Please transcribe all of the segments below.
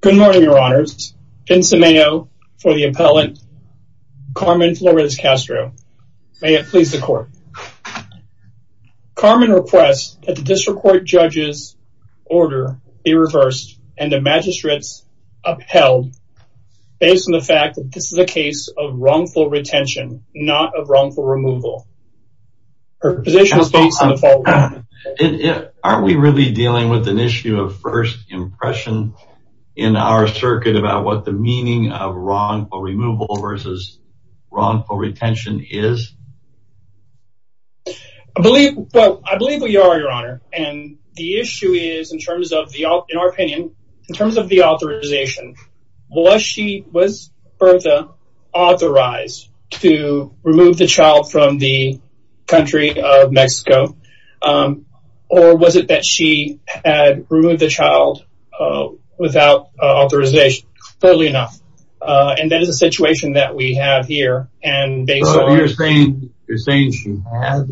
Good morning, your honors. Vincent Mayo for the appellant, Carmen Flores Castro. May it please the court. Carmen requests that the district court judge's order be reversed and the magistrates upheld based on the fact that this is a case of wrongful retention, not of wrongful removal. Her position is based on the following. Aren't we really dealing with an issue of first impression in our circuit about what the meaning of wrongful removal versus wrongful retention is? I believe we are, your honor, and the issue is in terms of the, in our opinion, in terms of the authorization, was she, was Bertha authorized to remove the child from the country of Mexico? Or was it that she had removed the child without authorization? Fairly enough, and that is a situation that we have here, and based on... You're saying she had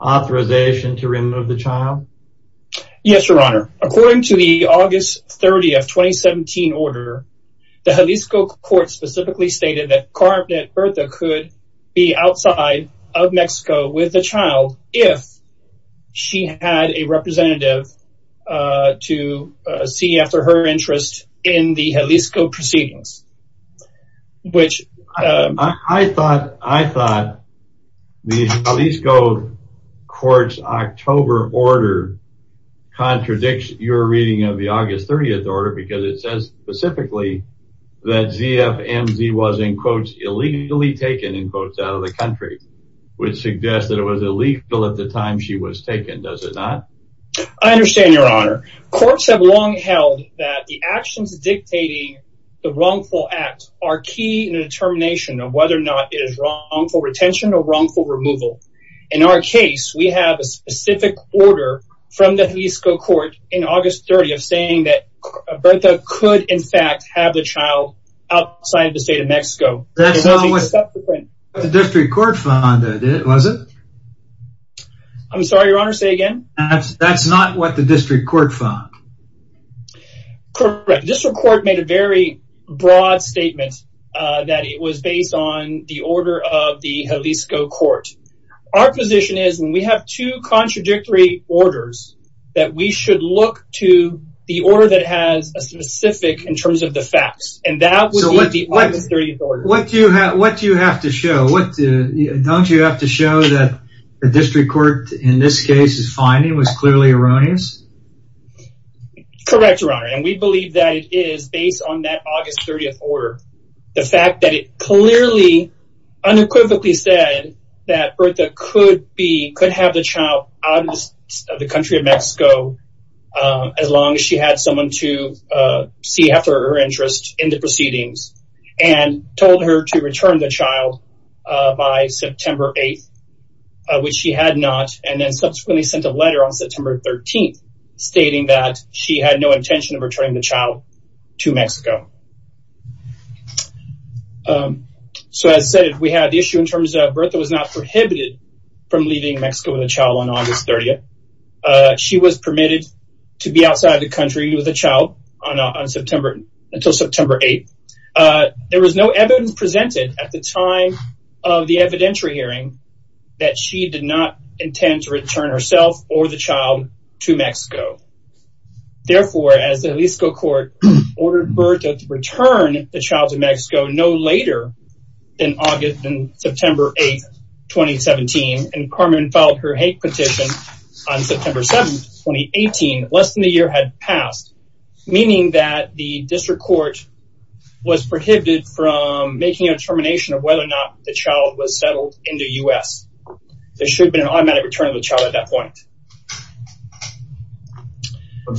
authorization to remove the child? Yes, your honor. According to the August 30 of 2017 order, the Jalisco court specifically stated that Carmen Bertha could be outside of Mexico with the child if she had a representative to see after her interest in the Jalisco proceedings, which... I thought the Jalisco court's October order contradicts your reading of the August 30 order because it says specifically that ZFMZ was, in quotes, illegally taken, in quotes, out of the country, which suggests that it was illegal at the time she was taken, does it not? I understand, your honor. Courts have long held that the actions dictating the wrongful act are key in the determination of whether or not it is wrongful retention or wrongful removal. In our case, we have a specific order from the Jalisco court in August 30 of saying that Bertha could, in fact, have the child outside the state of Mexico. That's not what the district court found, was it? I'm sorry, your honor, say again? That's not what the district court found. Correct. The district court made a very broad statement that it was based on the order of the Jalisco court. Our position is, and we have two contradictory orders, that we should look to the order that has a specific, in terms of the facts, and that would be the August 30 order. What do you have to show? Don't you have to show that the district court, in this case, is finding was clearly erroneous? Correct, your honor, and we believe that it is based on that August 30 order. The fact that it clearly, unequivocally said that Bertha could be, could have the child out of the country of Mexico as long as she had someone to see after her interest in the proceedings, and told her to return the child by September 8th, which she had not, and then subsequently sent a letter on September 13th stating that she had no intention of returning the child to Mexico. So, as I said, we had the issue in terms of Bertha was not prohibited from leaving Mexico with a child on August 30th. She was permitted to be outside the country with a child until September 8th. There was no evidence presented at the time of the evidentiary hearing that she did not intend to return herself or the child to Mexico. Therefore, as the Jalisco court ordered Bertha to return the child to Mexico no later than August, September 8th, 2017, and Carmen filed her hate petition on September 7th, 2018, less than a year had passed, meaning that the district court was prohibited from making a determination of whether or not the child was settled in the U.S. There should have been an automatic return of the child at that point.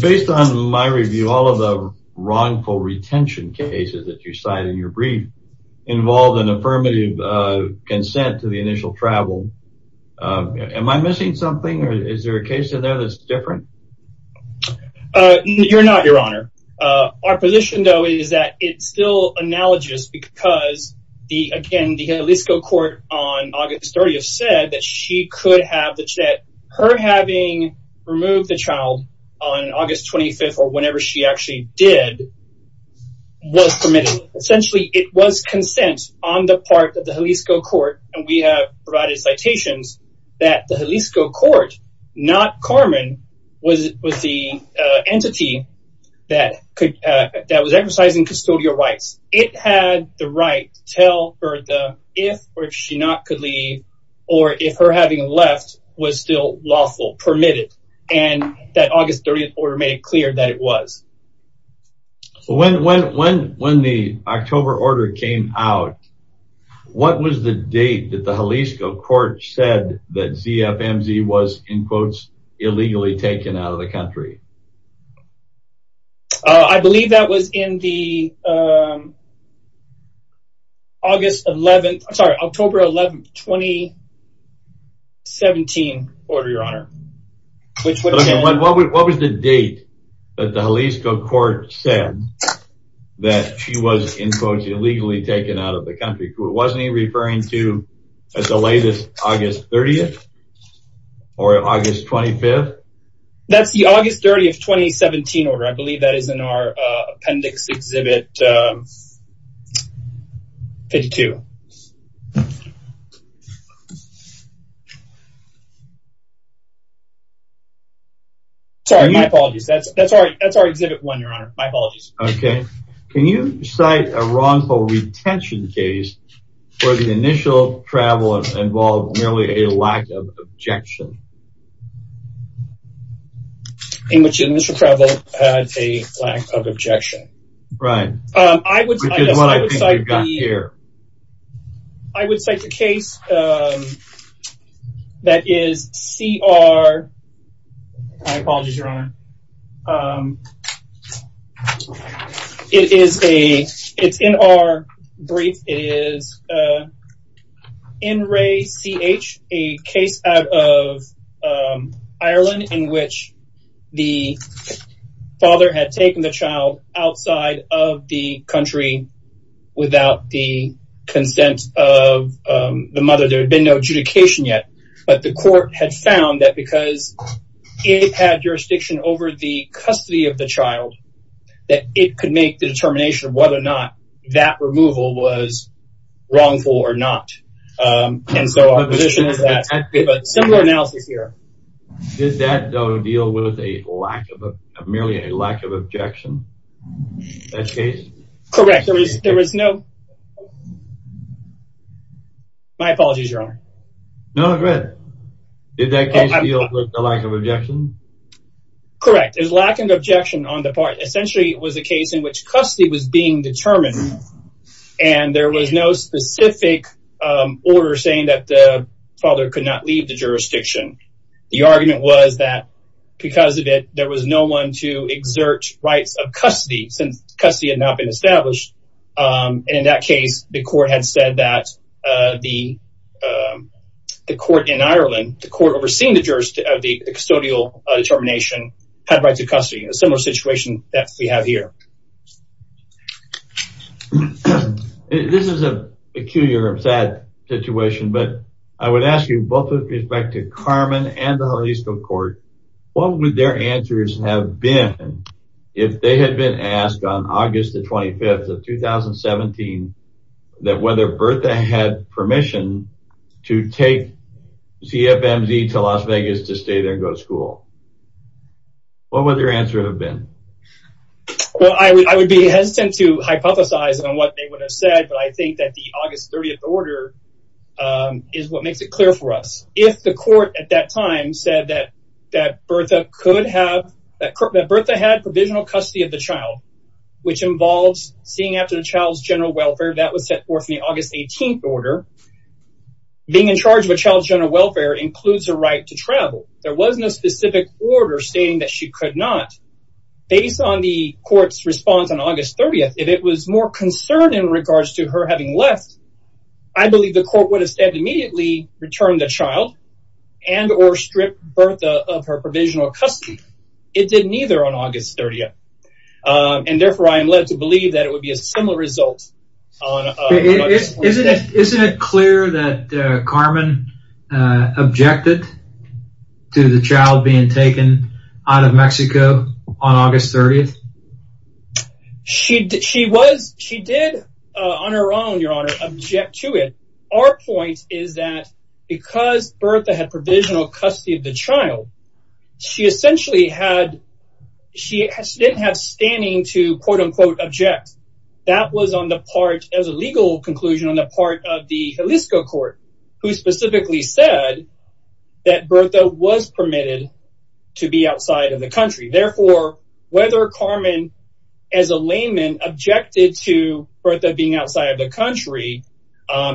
Based on my review, all of the wrongful retention cases that you cited in your brief involved an affirmative consent to the initial travel. Am I missing something or is there a case in there that's different? You're not, Your Honor. Our position, though, is that it's still analogous because the Jalisco court on August 30th said that she could have the child. Her having removed the child on August 25th or whenever she actually did was permitted. Essentially, it was consent on the part of the Jalisco court, and we have provided citations that the Jalisco court, not Carmen, was the entity that was exercising custodial rights. It had the right to tell Bertha if or if she not could leave or if her having left was still lawful, permitted, and that August 30th order made it clear that it was. When the October order came out, what was the date that the Jalisco court said that ZFMZ was, in quotes, illegally taken out of the country? I believe that was in the August 11th, sorry, October 11th, 2017 order, Your Honor. What was the date that the Jalisco court said that she was, in quotes, illegally taken out of the country? Wasn't he referring to the latest August 30th or August 25th? That's the August 30th, 2017 order. I believe that is in our appendix exhibit 52. Sorry, my apologies. That's our exhibit one, Your Honor. My apologies. Okay. Can you cite a wrongful retention case where the initial travel involved merely a lack of objection? In which the initial travel had a lack of objection. Right. Which is what I think we've got here. I would cite the case that is C.R. My apologies, Your Honor. It is a, it's in our brief. It is N. Ray C.H., a case out of Ireland in which the father had taken the child outside of the country without the consent of the mother. There had been no adjudication yet. But the court had found that because it had jurisdiction over the custody of the child, that it could make the determination of whether or not that removal was wrongful or not. And so our position is that we have a similar analysis here. Did that, though, deal with a lack of merely a lack of objection? That case? Correct. There was no... My apologies, Your Honor. No, it's good. Did that case deal with the lack of objection? Correct. There's lack of objection on the part. Essentially, it was a case in which custody was being determined and there was no specific order saying that the father could not leave the jurisdiction. The argument was that because of it, there was no one to exert rights of custody since custody had not been established. And in that case, the court had said that the court in Ireland, the court overseeing the jurisdiction of the custodial determination, had rights of custody. A similar situation that we have here. This is a peculiar and sad situation, but I would ask you both with respect to Carmen and the Jalisco Court, what would their answers have been if they had been asked on August the 25th of 2017 that whether Bertha had permission to take ZFMZ to Las Vegas to stay there and go to school? What would their answer have been? Well, I would be hesitant to hypothesize on what they would have said, but I think that the August 30th order is what makes it clear for us. If the court at that time said that Bertha could have, that Bertha had provisional custody of the child, which involves seeing after the child's general welfare, that was set forth in the August 18th order. Being in charge of a child's general welfare includes a right to travel. There was no specific order stating that she could not. Based on the court's response on August 30th, if it was more concerned in regards to her having left, I believe the court would have said immediately return the child and or strip Bertha of her provisional custody. It did neither on August 30th, and therefore I am led to believe that it would be a similar result on August 30th. Isn't it clear that Carmen objected to the child being taken out of Mexico on August 30th? She did on her own, Your Honor, object to it. Our point is that because Bertha had provisional custody of the child, she essentially had, she didn't have standing to quote-unquote object. That was on the part, as a legal conclusion, on the part of the Jalisco court, who specifically said that Bertha was permitted to be outside of the country. Therefore, whether Carmen, as a layman, objected to Bertha being outside of the country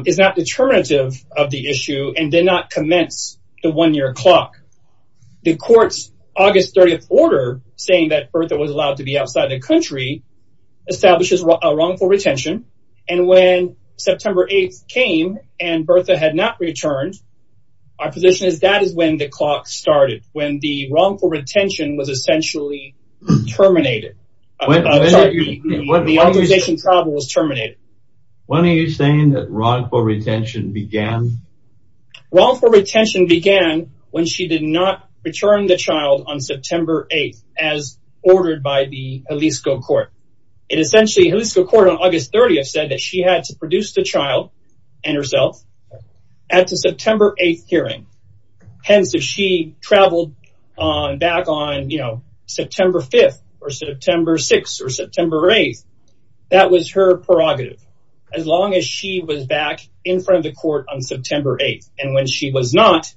is not determinative of the issue and did not commence the one-year clock. The court's August 30th order saying that Bertha was allowed to be outside of the country establishes wrongful retention, and when September 8th came and Bertha had not returned, our position is that is when the clock started, when the wrongful retention was essentially terminated. The organization travel was terminated. When are you saying that wrongful retention began? Wrongful retention began when she did not return the child on September 8th as ordered by the Jalisco court. It essentially, Jalisco court on August 30th said that she had to produce the child and herself at the September 8th hearing. Hence, if she traveled back on, you know, September 5th or September 6th or September 8th, that was her prerogative. As long as she was back in front of the court on September 8th, and when she was not,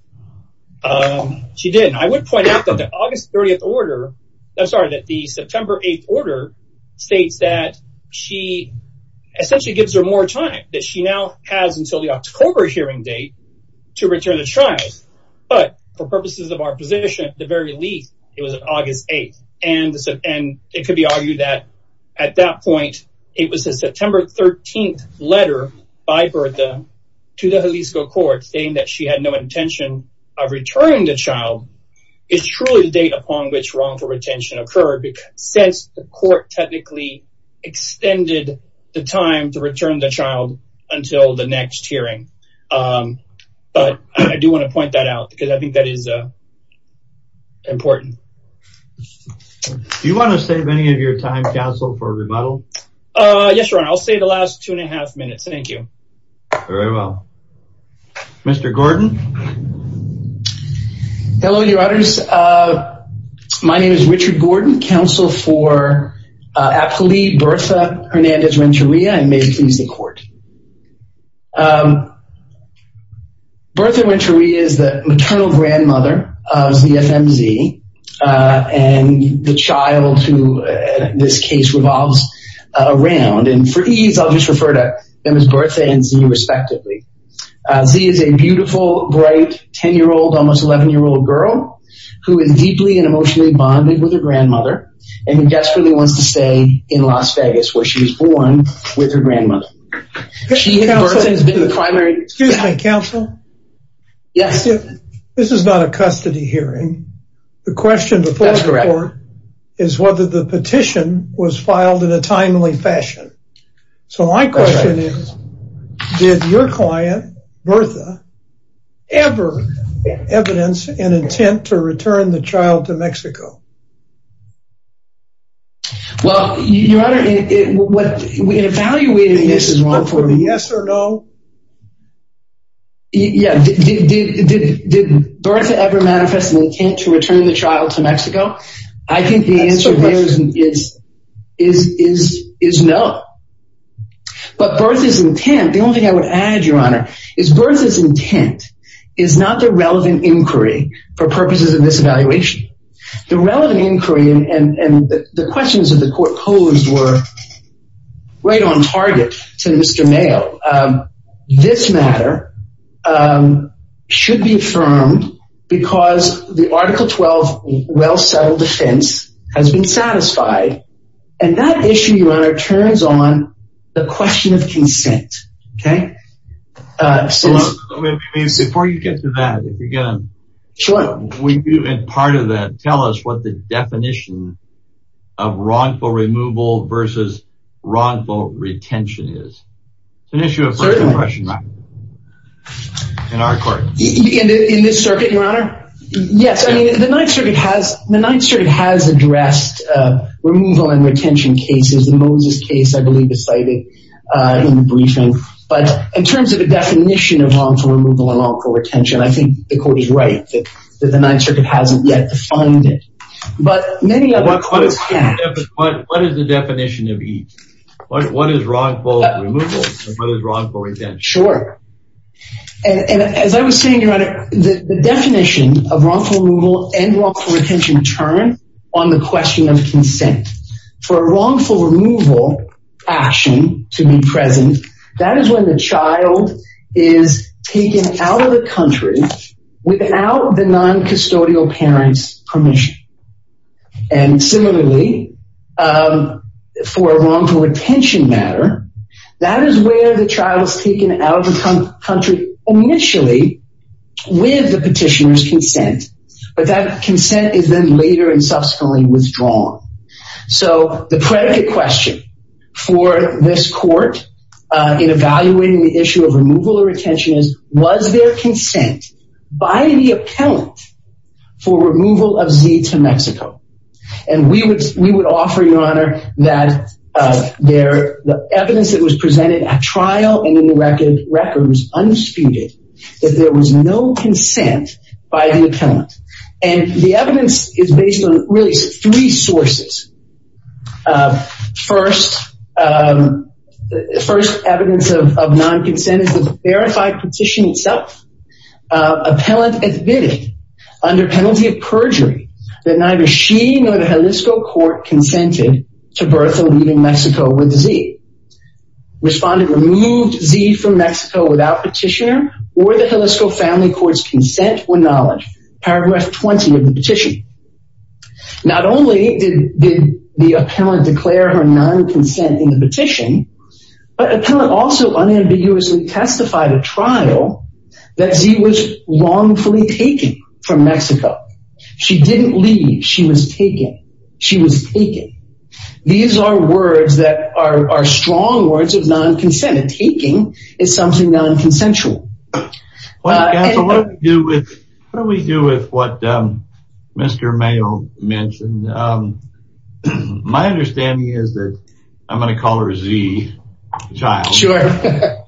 she didn't. I would point out that the August 30th order, I'm sorry, that the September 8th order states that she essentially gives her more time, that she now has until the October hearing date to return the child. But for purposes of our position, at the very least, it was August 8th, and it could be argued that at that point, it was a September 13th letter by Bertha to the Jalisco court saying that she had no intention of returning the child. It's truly the date upon which wrongful retention occurred since the court technically extended the time to return the child until the next hearing. But I do want to point that out because I think that is important. Do you want to save any of your time, Castle, for rebuttal? Yes, Your Honor. I'll save the last two and a half minutes. Thank you. Very well. Mr. Gordon. Hello, Your Honors. My name is Richard Gordon, counsel for Apolli Bertha Hernandez-Renteria, and may it please the court. Bertha Renteria is the maternal grandmother of the FMZ, and the child who this case revolves around. And for ease, I'll just refer to them as Bertha and Zee respectively. Zee is a beautiful, bright, 10-year-old, almost 11-year-old girl who is deeply and emotionally bonded with her grandmother and who desperately wants to stay in Las Vegas where she was born with her grandmother. Excuse me, counsel. Yes. This is not a custody hearing. The question before the court is whether the petition was filed in a timely fashion. So my question is, did your client, Bertha, ever evidence an intent to return the child to Mexico? Well, Your Honor, in evaluating this is wrong for me. Yes or no? Yeah, did Bertha ever manifest an intent to return the child to Mexico? I think the answer there is no. But Bertha's intent, the only thing I would add, Your Honor, is Bertha's intent is not the relevant inquiry for purposes of this evaluation. The relevant inquiry and the questions that the court posed were right on target to Mr. Mayo. This matter should be affirmed because the Article 12 well-settled defense has been satisfied, and that issue, Your Honor, turns on the question of consent. Okay? Before you get to that, if you're going to part of that, tell us what the definition of wrongful removal versus wrongful retention is. It's an issue of first impression in our court. In this circuit, Your Honor? Yes. I mean, the Ninth Circuit has addressed removal and retention cases. The Moses case, I believe, is cited in the briefing. But in terms of the definition of wrongful removal and wrongful retention, I think the court is right that the Ninth Circuit hasn't yet defined it. But many other courts have. What is the definition of each? What is wrongful removal and what is wrongful retention? Sure. And as I was saying, Your Honor, the definition of wrongful removal and wrongful retention turn on the question of consent. For a wrongful removal action to be present, that is when the child is taken out of the country without the noncustodial parent's permission. And similarly, for a wrongful retention matter, that is where the child is taken out of the country initially with the petitioner's consent. But that consent is then later and subsequently withdrawn. So the predicate question for this court in evaluating the issue of removal or retention is, was there consent by the appellant for removal of Z to Mexico? And we would offer, Your Honor, that the evidence that was presented at trial and in the record was undisputed, that there was no consent by the appellant. And the evidence is based on really three sources. First, evidence of nonconsent is the verified petition itself. Appellant admitted under penalty of perjury that neither she nor the Jalisco court consented to birth and leaving Mexico with Z. Respondent removed Z from Mexico without petitioner or the Jalisco family court's consent or knowledge, paragraph 20 of the petition. Not only did the appellant declare her nonconsent in the petition, but appellant also unambiguously testified at trial that Z was wrongfully taken from Mexico. She didn't leave. She was taken. She was taken. These are words that are strong words of nonconsent. Taking is something nonconsensual. What do we do with what Mr. Mayo mentioned? My understanding is that I'm going to call her Z, child.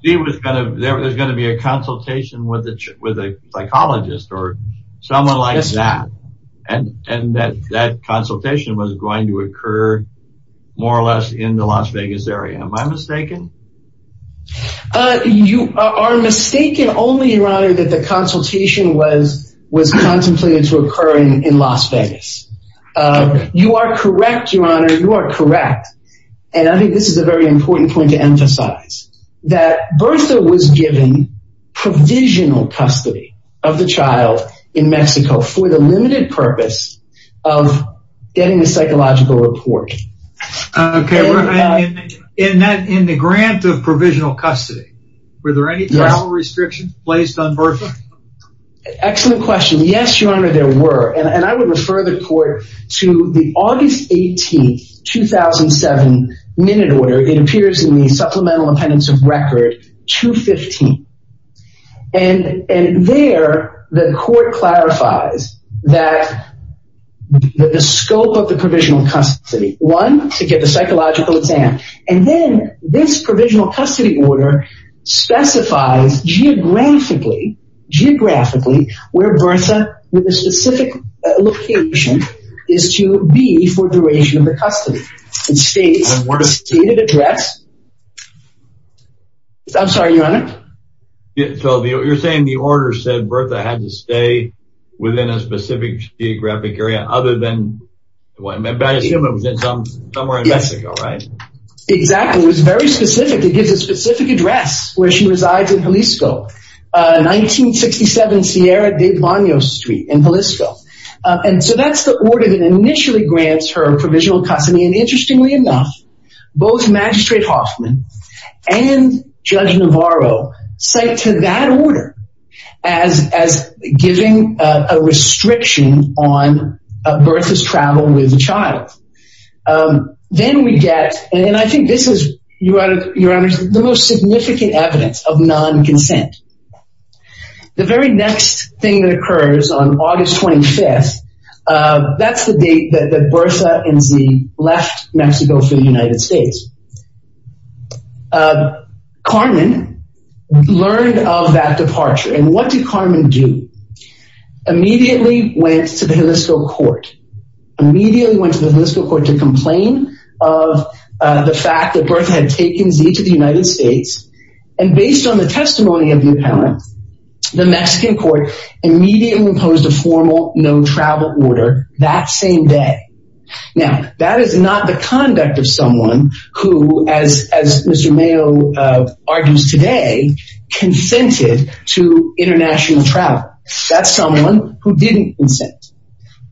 There's going to be a consultation with a psychologist or someone like that. And that consultation was going to occur more or less in the Las Vegas area. Am I mistaken? You are mistaken only, your honor, that the consultation was contemplated to You are correct, your honor. You are correct. And I think this is a very important point to emphasize. That Bertha was given provisional custody of the child in Mexico for the limited purpose of getting a psychological report. Okay. In the grant of provisional custody, were there any travel restrictions placed on Bertha? Excellent question. Yes, your honor, there were. And I would refer the court to the August 18, 2007, minute order. It appears in the supplemental appendix of record 215. And there, the court clarifies that the scope of the provisional custody, one, to get the psychological exam. And then this provisional custody order specifies geographically, where Bertha, with a specific location, is to be for duration of the custody. It states the stated address. I'm sorry, your honor. So you're saying the order said Bertha had to stay within a specific geographic area other than, I assume it was somewhere in Mexico, right? Yes. Exactly. It gives a specific address where she resides in Jalisco. 1967 Sierra de Banos Street in Jalisco. And so that's the order that initially grants her provisional custody. And interestingly enough, both Magistrate Hoffman and Judge Navarro cite to that order as giving a restriction on Bertha's travel with the child. Then we get, and I think this is, your honor, the most significant evidence of non-consent. The very next thing that occurs on August 25th, that's the date that Bertha and Zee left Mexico for the United States. Carmen learned of that departure. And what did Carmen do? Immediately went to the Jalisco court. Immediately went to the Jalisco court to complain of the fact that Bertha had taken Zee to the United States. And based on the testimony of the appellant, the Mexican court immediately imposed a formal no travel order that same day. Now, that is not the conduct of someone who, as Mr. Mayo argues today, consented to international travel. That's someone who didn't consent.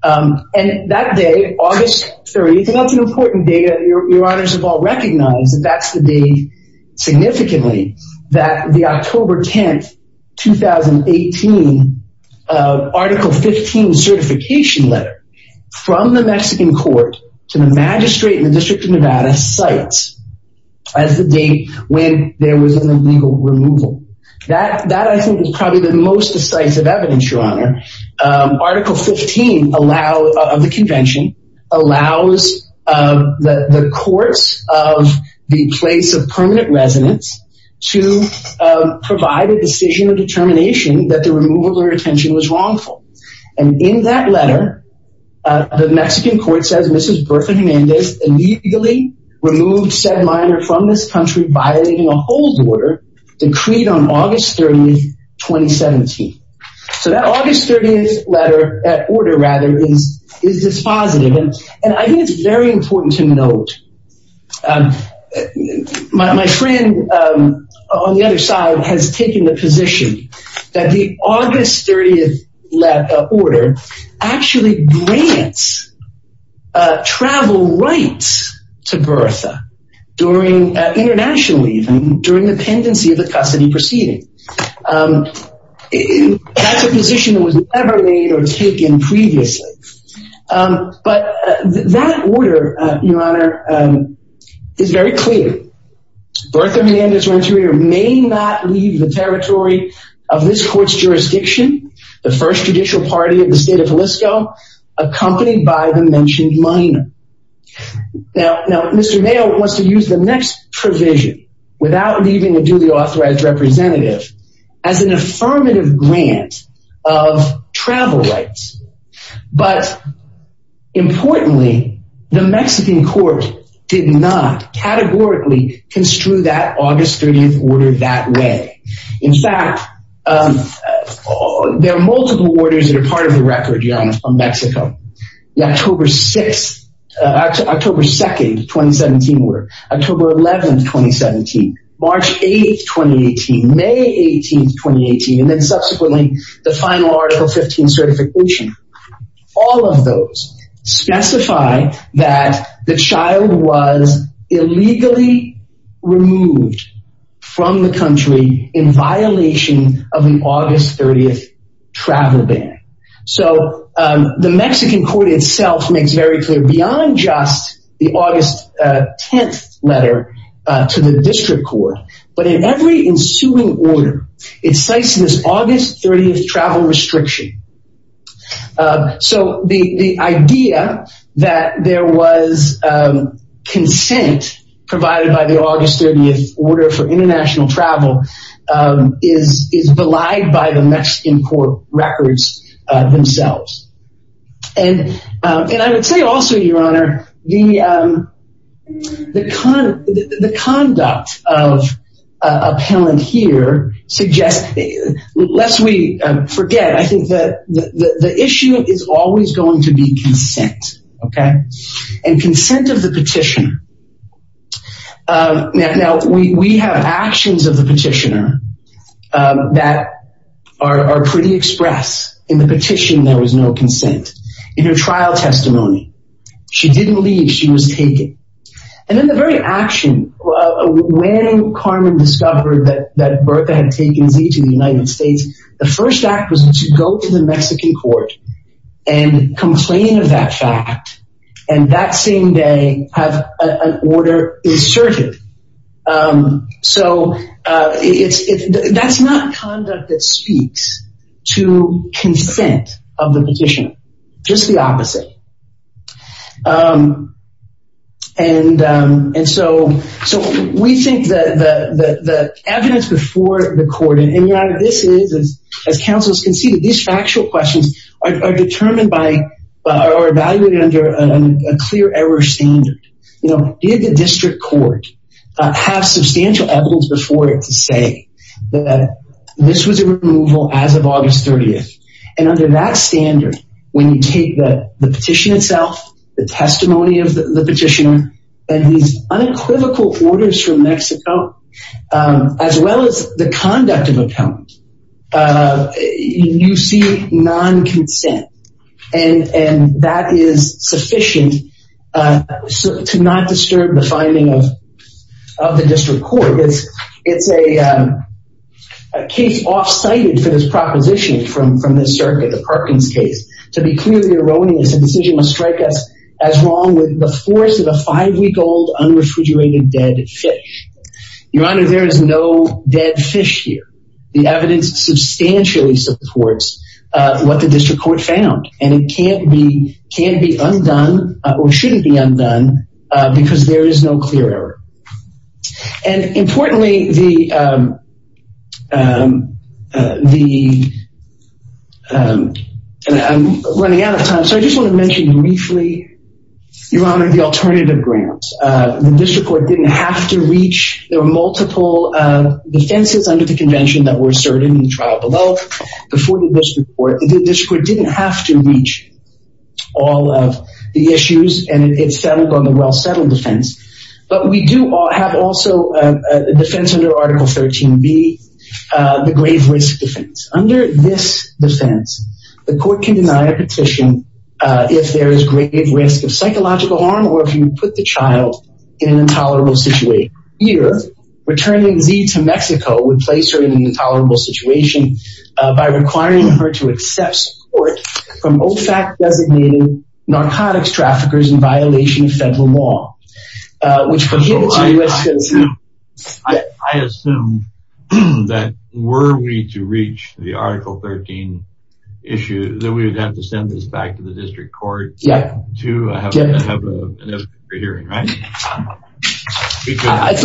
And that day, August 30th, and that's an important date, your honors have all recognized that that's the day, significantly, that the October 10th, 2018, Article 15 certification letter from the Mexican court to the magistrate in the District of Nevada cites as the date when there was an illegal removal. That, I think, is probably the most decisive evidence, your honor. Article 15 of the convention allows the courts of the place of permanent residence to provide a decision of determination that the removal of her detention was wrongful. And in that letter, the Mexican court says, Mrs. Bertha Jimenez illegally removed said minor from this country violating a hold order decreed on August 30th, 2017. So that August 30th letter, that order, rather, is dispositive. And I think it's very important to note, my friend on the other side has taken the position that the August 30th order actually grants travel rights to Bertha during, internationally even, during the pendency of the custody proceeding. That's a position that was never made or taken previously. But that order, your honor, is very clear. Bertha Jimenez Renteria may not leave the territory of this court's jurisdiction, the first judicial party of the state of Jalisco, accompanied by the mentioned minor. Now, Mr. Mayo wants to use the next provision, without leaving a duly authorized representative, as an affirmative grant of travel rights. But importantly, the Mexican court did not categorically construe that August 30th order that way. In fact, there are multiple orders that are part of the record, your honor, from Mexico. The October 6th, October 2nd, 2017 order. October 11th, 2017. March 8th, 2018. May 18th, 2018. And then subsequently, the final Article 15 certification. All of those specify that the child was illegally removed from the country in violation of the August 30th travel ban. So the Mexican court itself makes very clear, beyond just the August 10th letter to the district court, but in every ensuing order, it cites this August 30th travel restriction. So the idea that there was consent provided by the August 30th order for international travel is belied by the Mexican court records themselves. And I would say also, your honor, the conduct of appellant here suggests, lest we forget, I think that the issue is always going to be consent. Okay? And consent of the petitioner. Now, we have actions of the petitioner that are pretty express. In the petition, there was no consent. In her trial testimony, she didn't leave. She was taken. And in the very action, when Carmen discovered that Bertha had taken Z to the United States, the first act was to go to the Mexican court and complain of that fact. And that same day have an order inserted. So that's not conduct that speaks to consent of the petitioner. Just the opposite. And so we think that the evidence before the court, and your honor, this is, as counsels can see, these factual questions are determined by or evaluated under a clear error standard. You know, did the district court have substantial evidence before it to say that this was a removal as of August 30th? And under that standard, when you take the petition itself, the testimony of the petitioner, and these unequivocal orders from Mexico, as well as the conduct of account, you see non-consent. And that is sufficient to not disturb the finding of the district court. It's a case off-cited for this proposition from the circuit, the Perkins case. To be clearly erroneous, the decision must strike us as wrong with the force of a five-week-old unrefrigerated dead fish. Your honor, there is no dead fish here. The evidence substantially supports what the district court found. And it can be undone or shouldn't be undone because there is no clear error. And importantly, I'm running out of time, so I just want to mention briefly, your honor, the alternative grounds. The district court didn't have to reach. There were multiple defenses under the convention that were asserted in the trial below before the district court. The district court didn't have to reach all of the issues, and it settled on the well-settled defense. But we do have also a defense under Article 13B, the grave risk defense. Under this defense, the court can deny a petition if there is grave risk of psychological harm or if you put the child in an intolerable situation. Here, returning Z to Mexico would place her in an intolerable situation by requiring her to accept support from OFAC-designated narcotics traffickers in violation of federal law. I assume that were we to reach the Article 13 issue, that we would have to send this back to the district court to have a hearing, right? I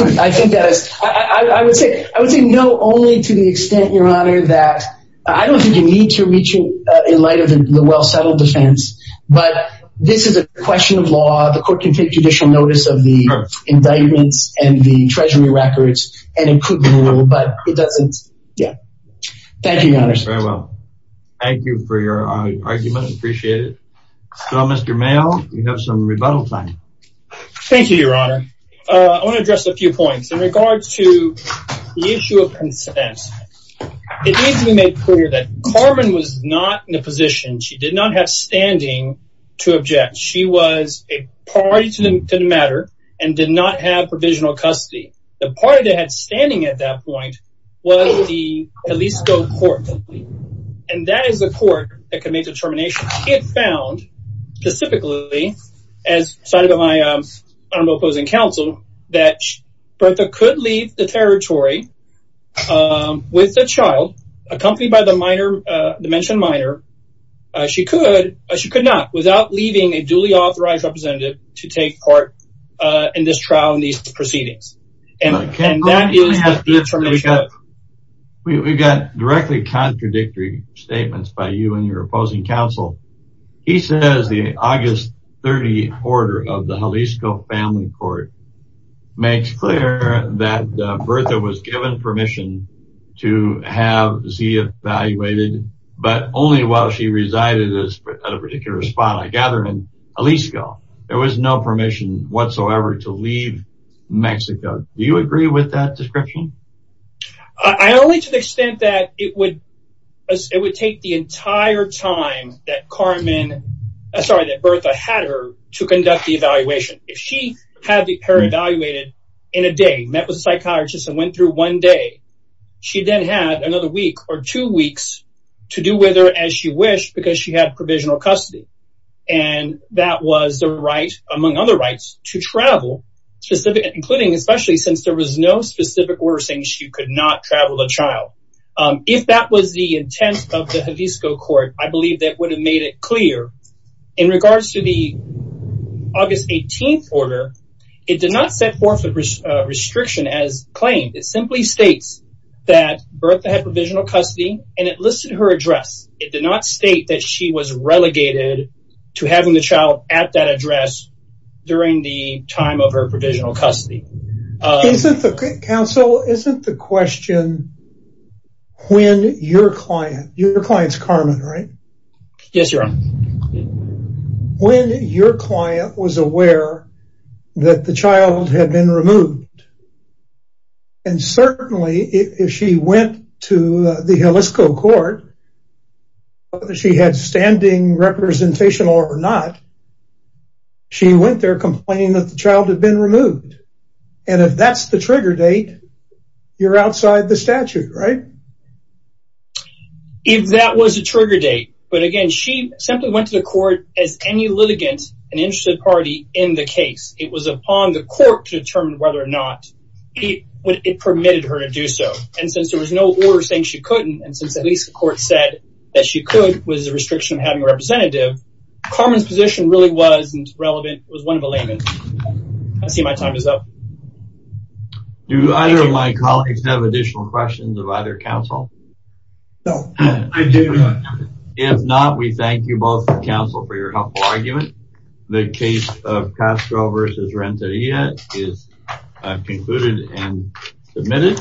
would say no, only to the extent, your honor, that I don't think you need to reach it in light of the well-settled defense. But this is a question of law. The court can take judicial notice of the indictments and the treasury records and include the rule, but it doesn't, yeah. Thank you, your honor. Very well. Thank you for your argument. I appreciate it. So, Mr. Mayo, you have some rebuttal time. Thank you, your honor. I want to address a few points. In regards to the issue of consent, it needs to be made clear that Carmen was not in a position, she did not have standing, to object. She was a party to the matter and did not have provisional custody. The party that had standing at that point was the Jalisco court, and that is the court that committed the termination. It found, specifically, as cited by my honorable opposing counsel, that Bertha could leave the territory with the child, accompanied by the minor, the mentioned minor. She could, or she could not, without leaving a duly authorized representative to take part in this trial and these proceedings. And that is the termination. We got directly contradictory statements by you and your opposing counsel. He says the August 30th order of the Jalisco family court makes clear that while she resided at a particular spot, I gather, in Jalisco, there was no permission whatsoever to leave Mexico. Do you agree with that description? I only to the extent that it would take the entire time that Carmen, sorry, that Bertha had her to conduct the evaluation. If she had her evaluated in a day, met with a psychiatrist and went through one day, she then had another week or two weeks to do with her as she wished because she had provisional custody. And that was the right, among other rights, to travel, including especially since there was no specific order saying she could not travel a child. If that was the intent of the Jalisco court, I believe that would have made it clear. In regards to the August 18th order, it did not set forth a restriction as claimed. It simply states that Bertha had provisional custody and it listed her address. It did not state that she was relegated to having the child at that address during the time of her provisional custody. Counsel, isn't the question when your client, your client's Carmen, right? Yes, Your Honor. When your client was aware that the child had been removed and certainly if she went to the Jalisco court, whether she had standing representation or not, she went there complaining that the child had been removed. And if that's the trigger date, you're outside the statute, right? If that was a trigger date, but again, she simply went to the court as any litigant, an interested party in the case. It was upon the court to determine whether or not it permitted her to do so. And since there was no order saying she couldn't, and since at least the court said that she could, was the restriction of having a representative, Carmen's position really wasn't relevant. It was one of a layman. I see my time is up. Do either of my colleagues have additional questions of either counsel? No. I do. If not, we thank you both for counsel for your helpful argument. The case of Castro versus Renteria is concluded and submitted.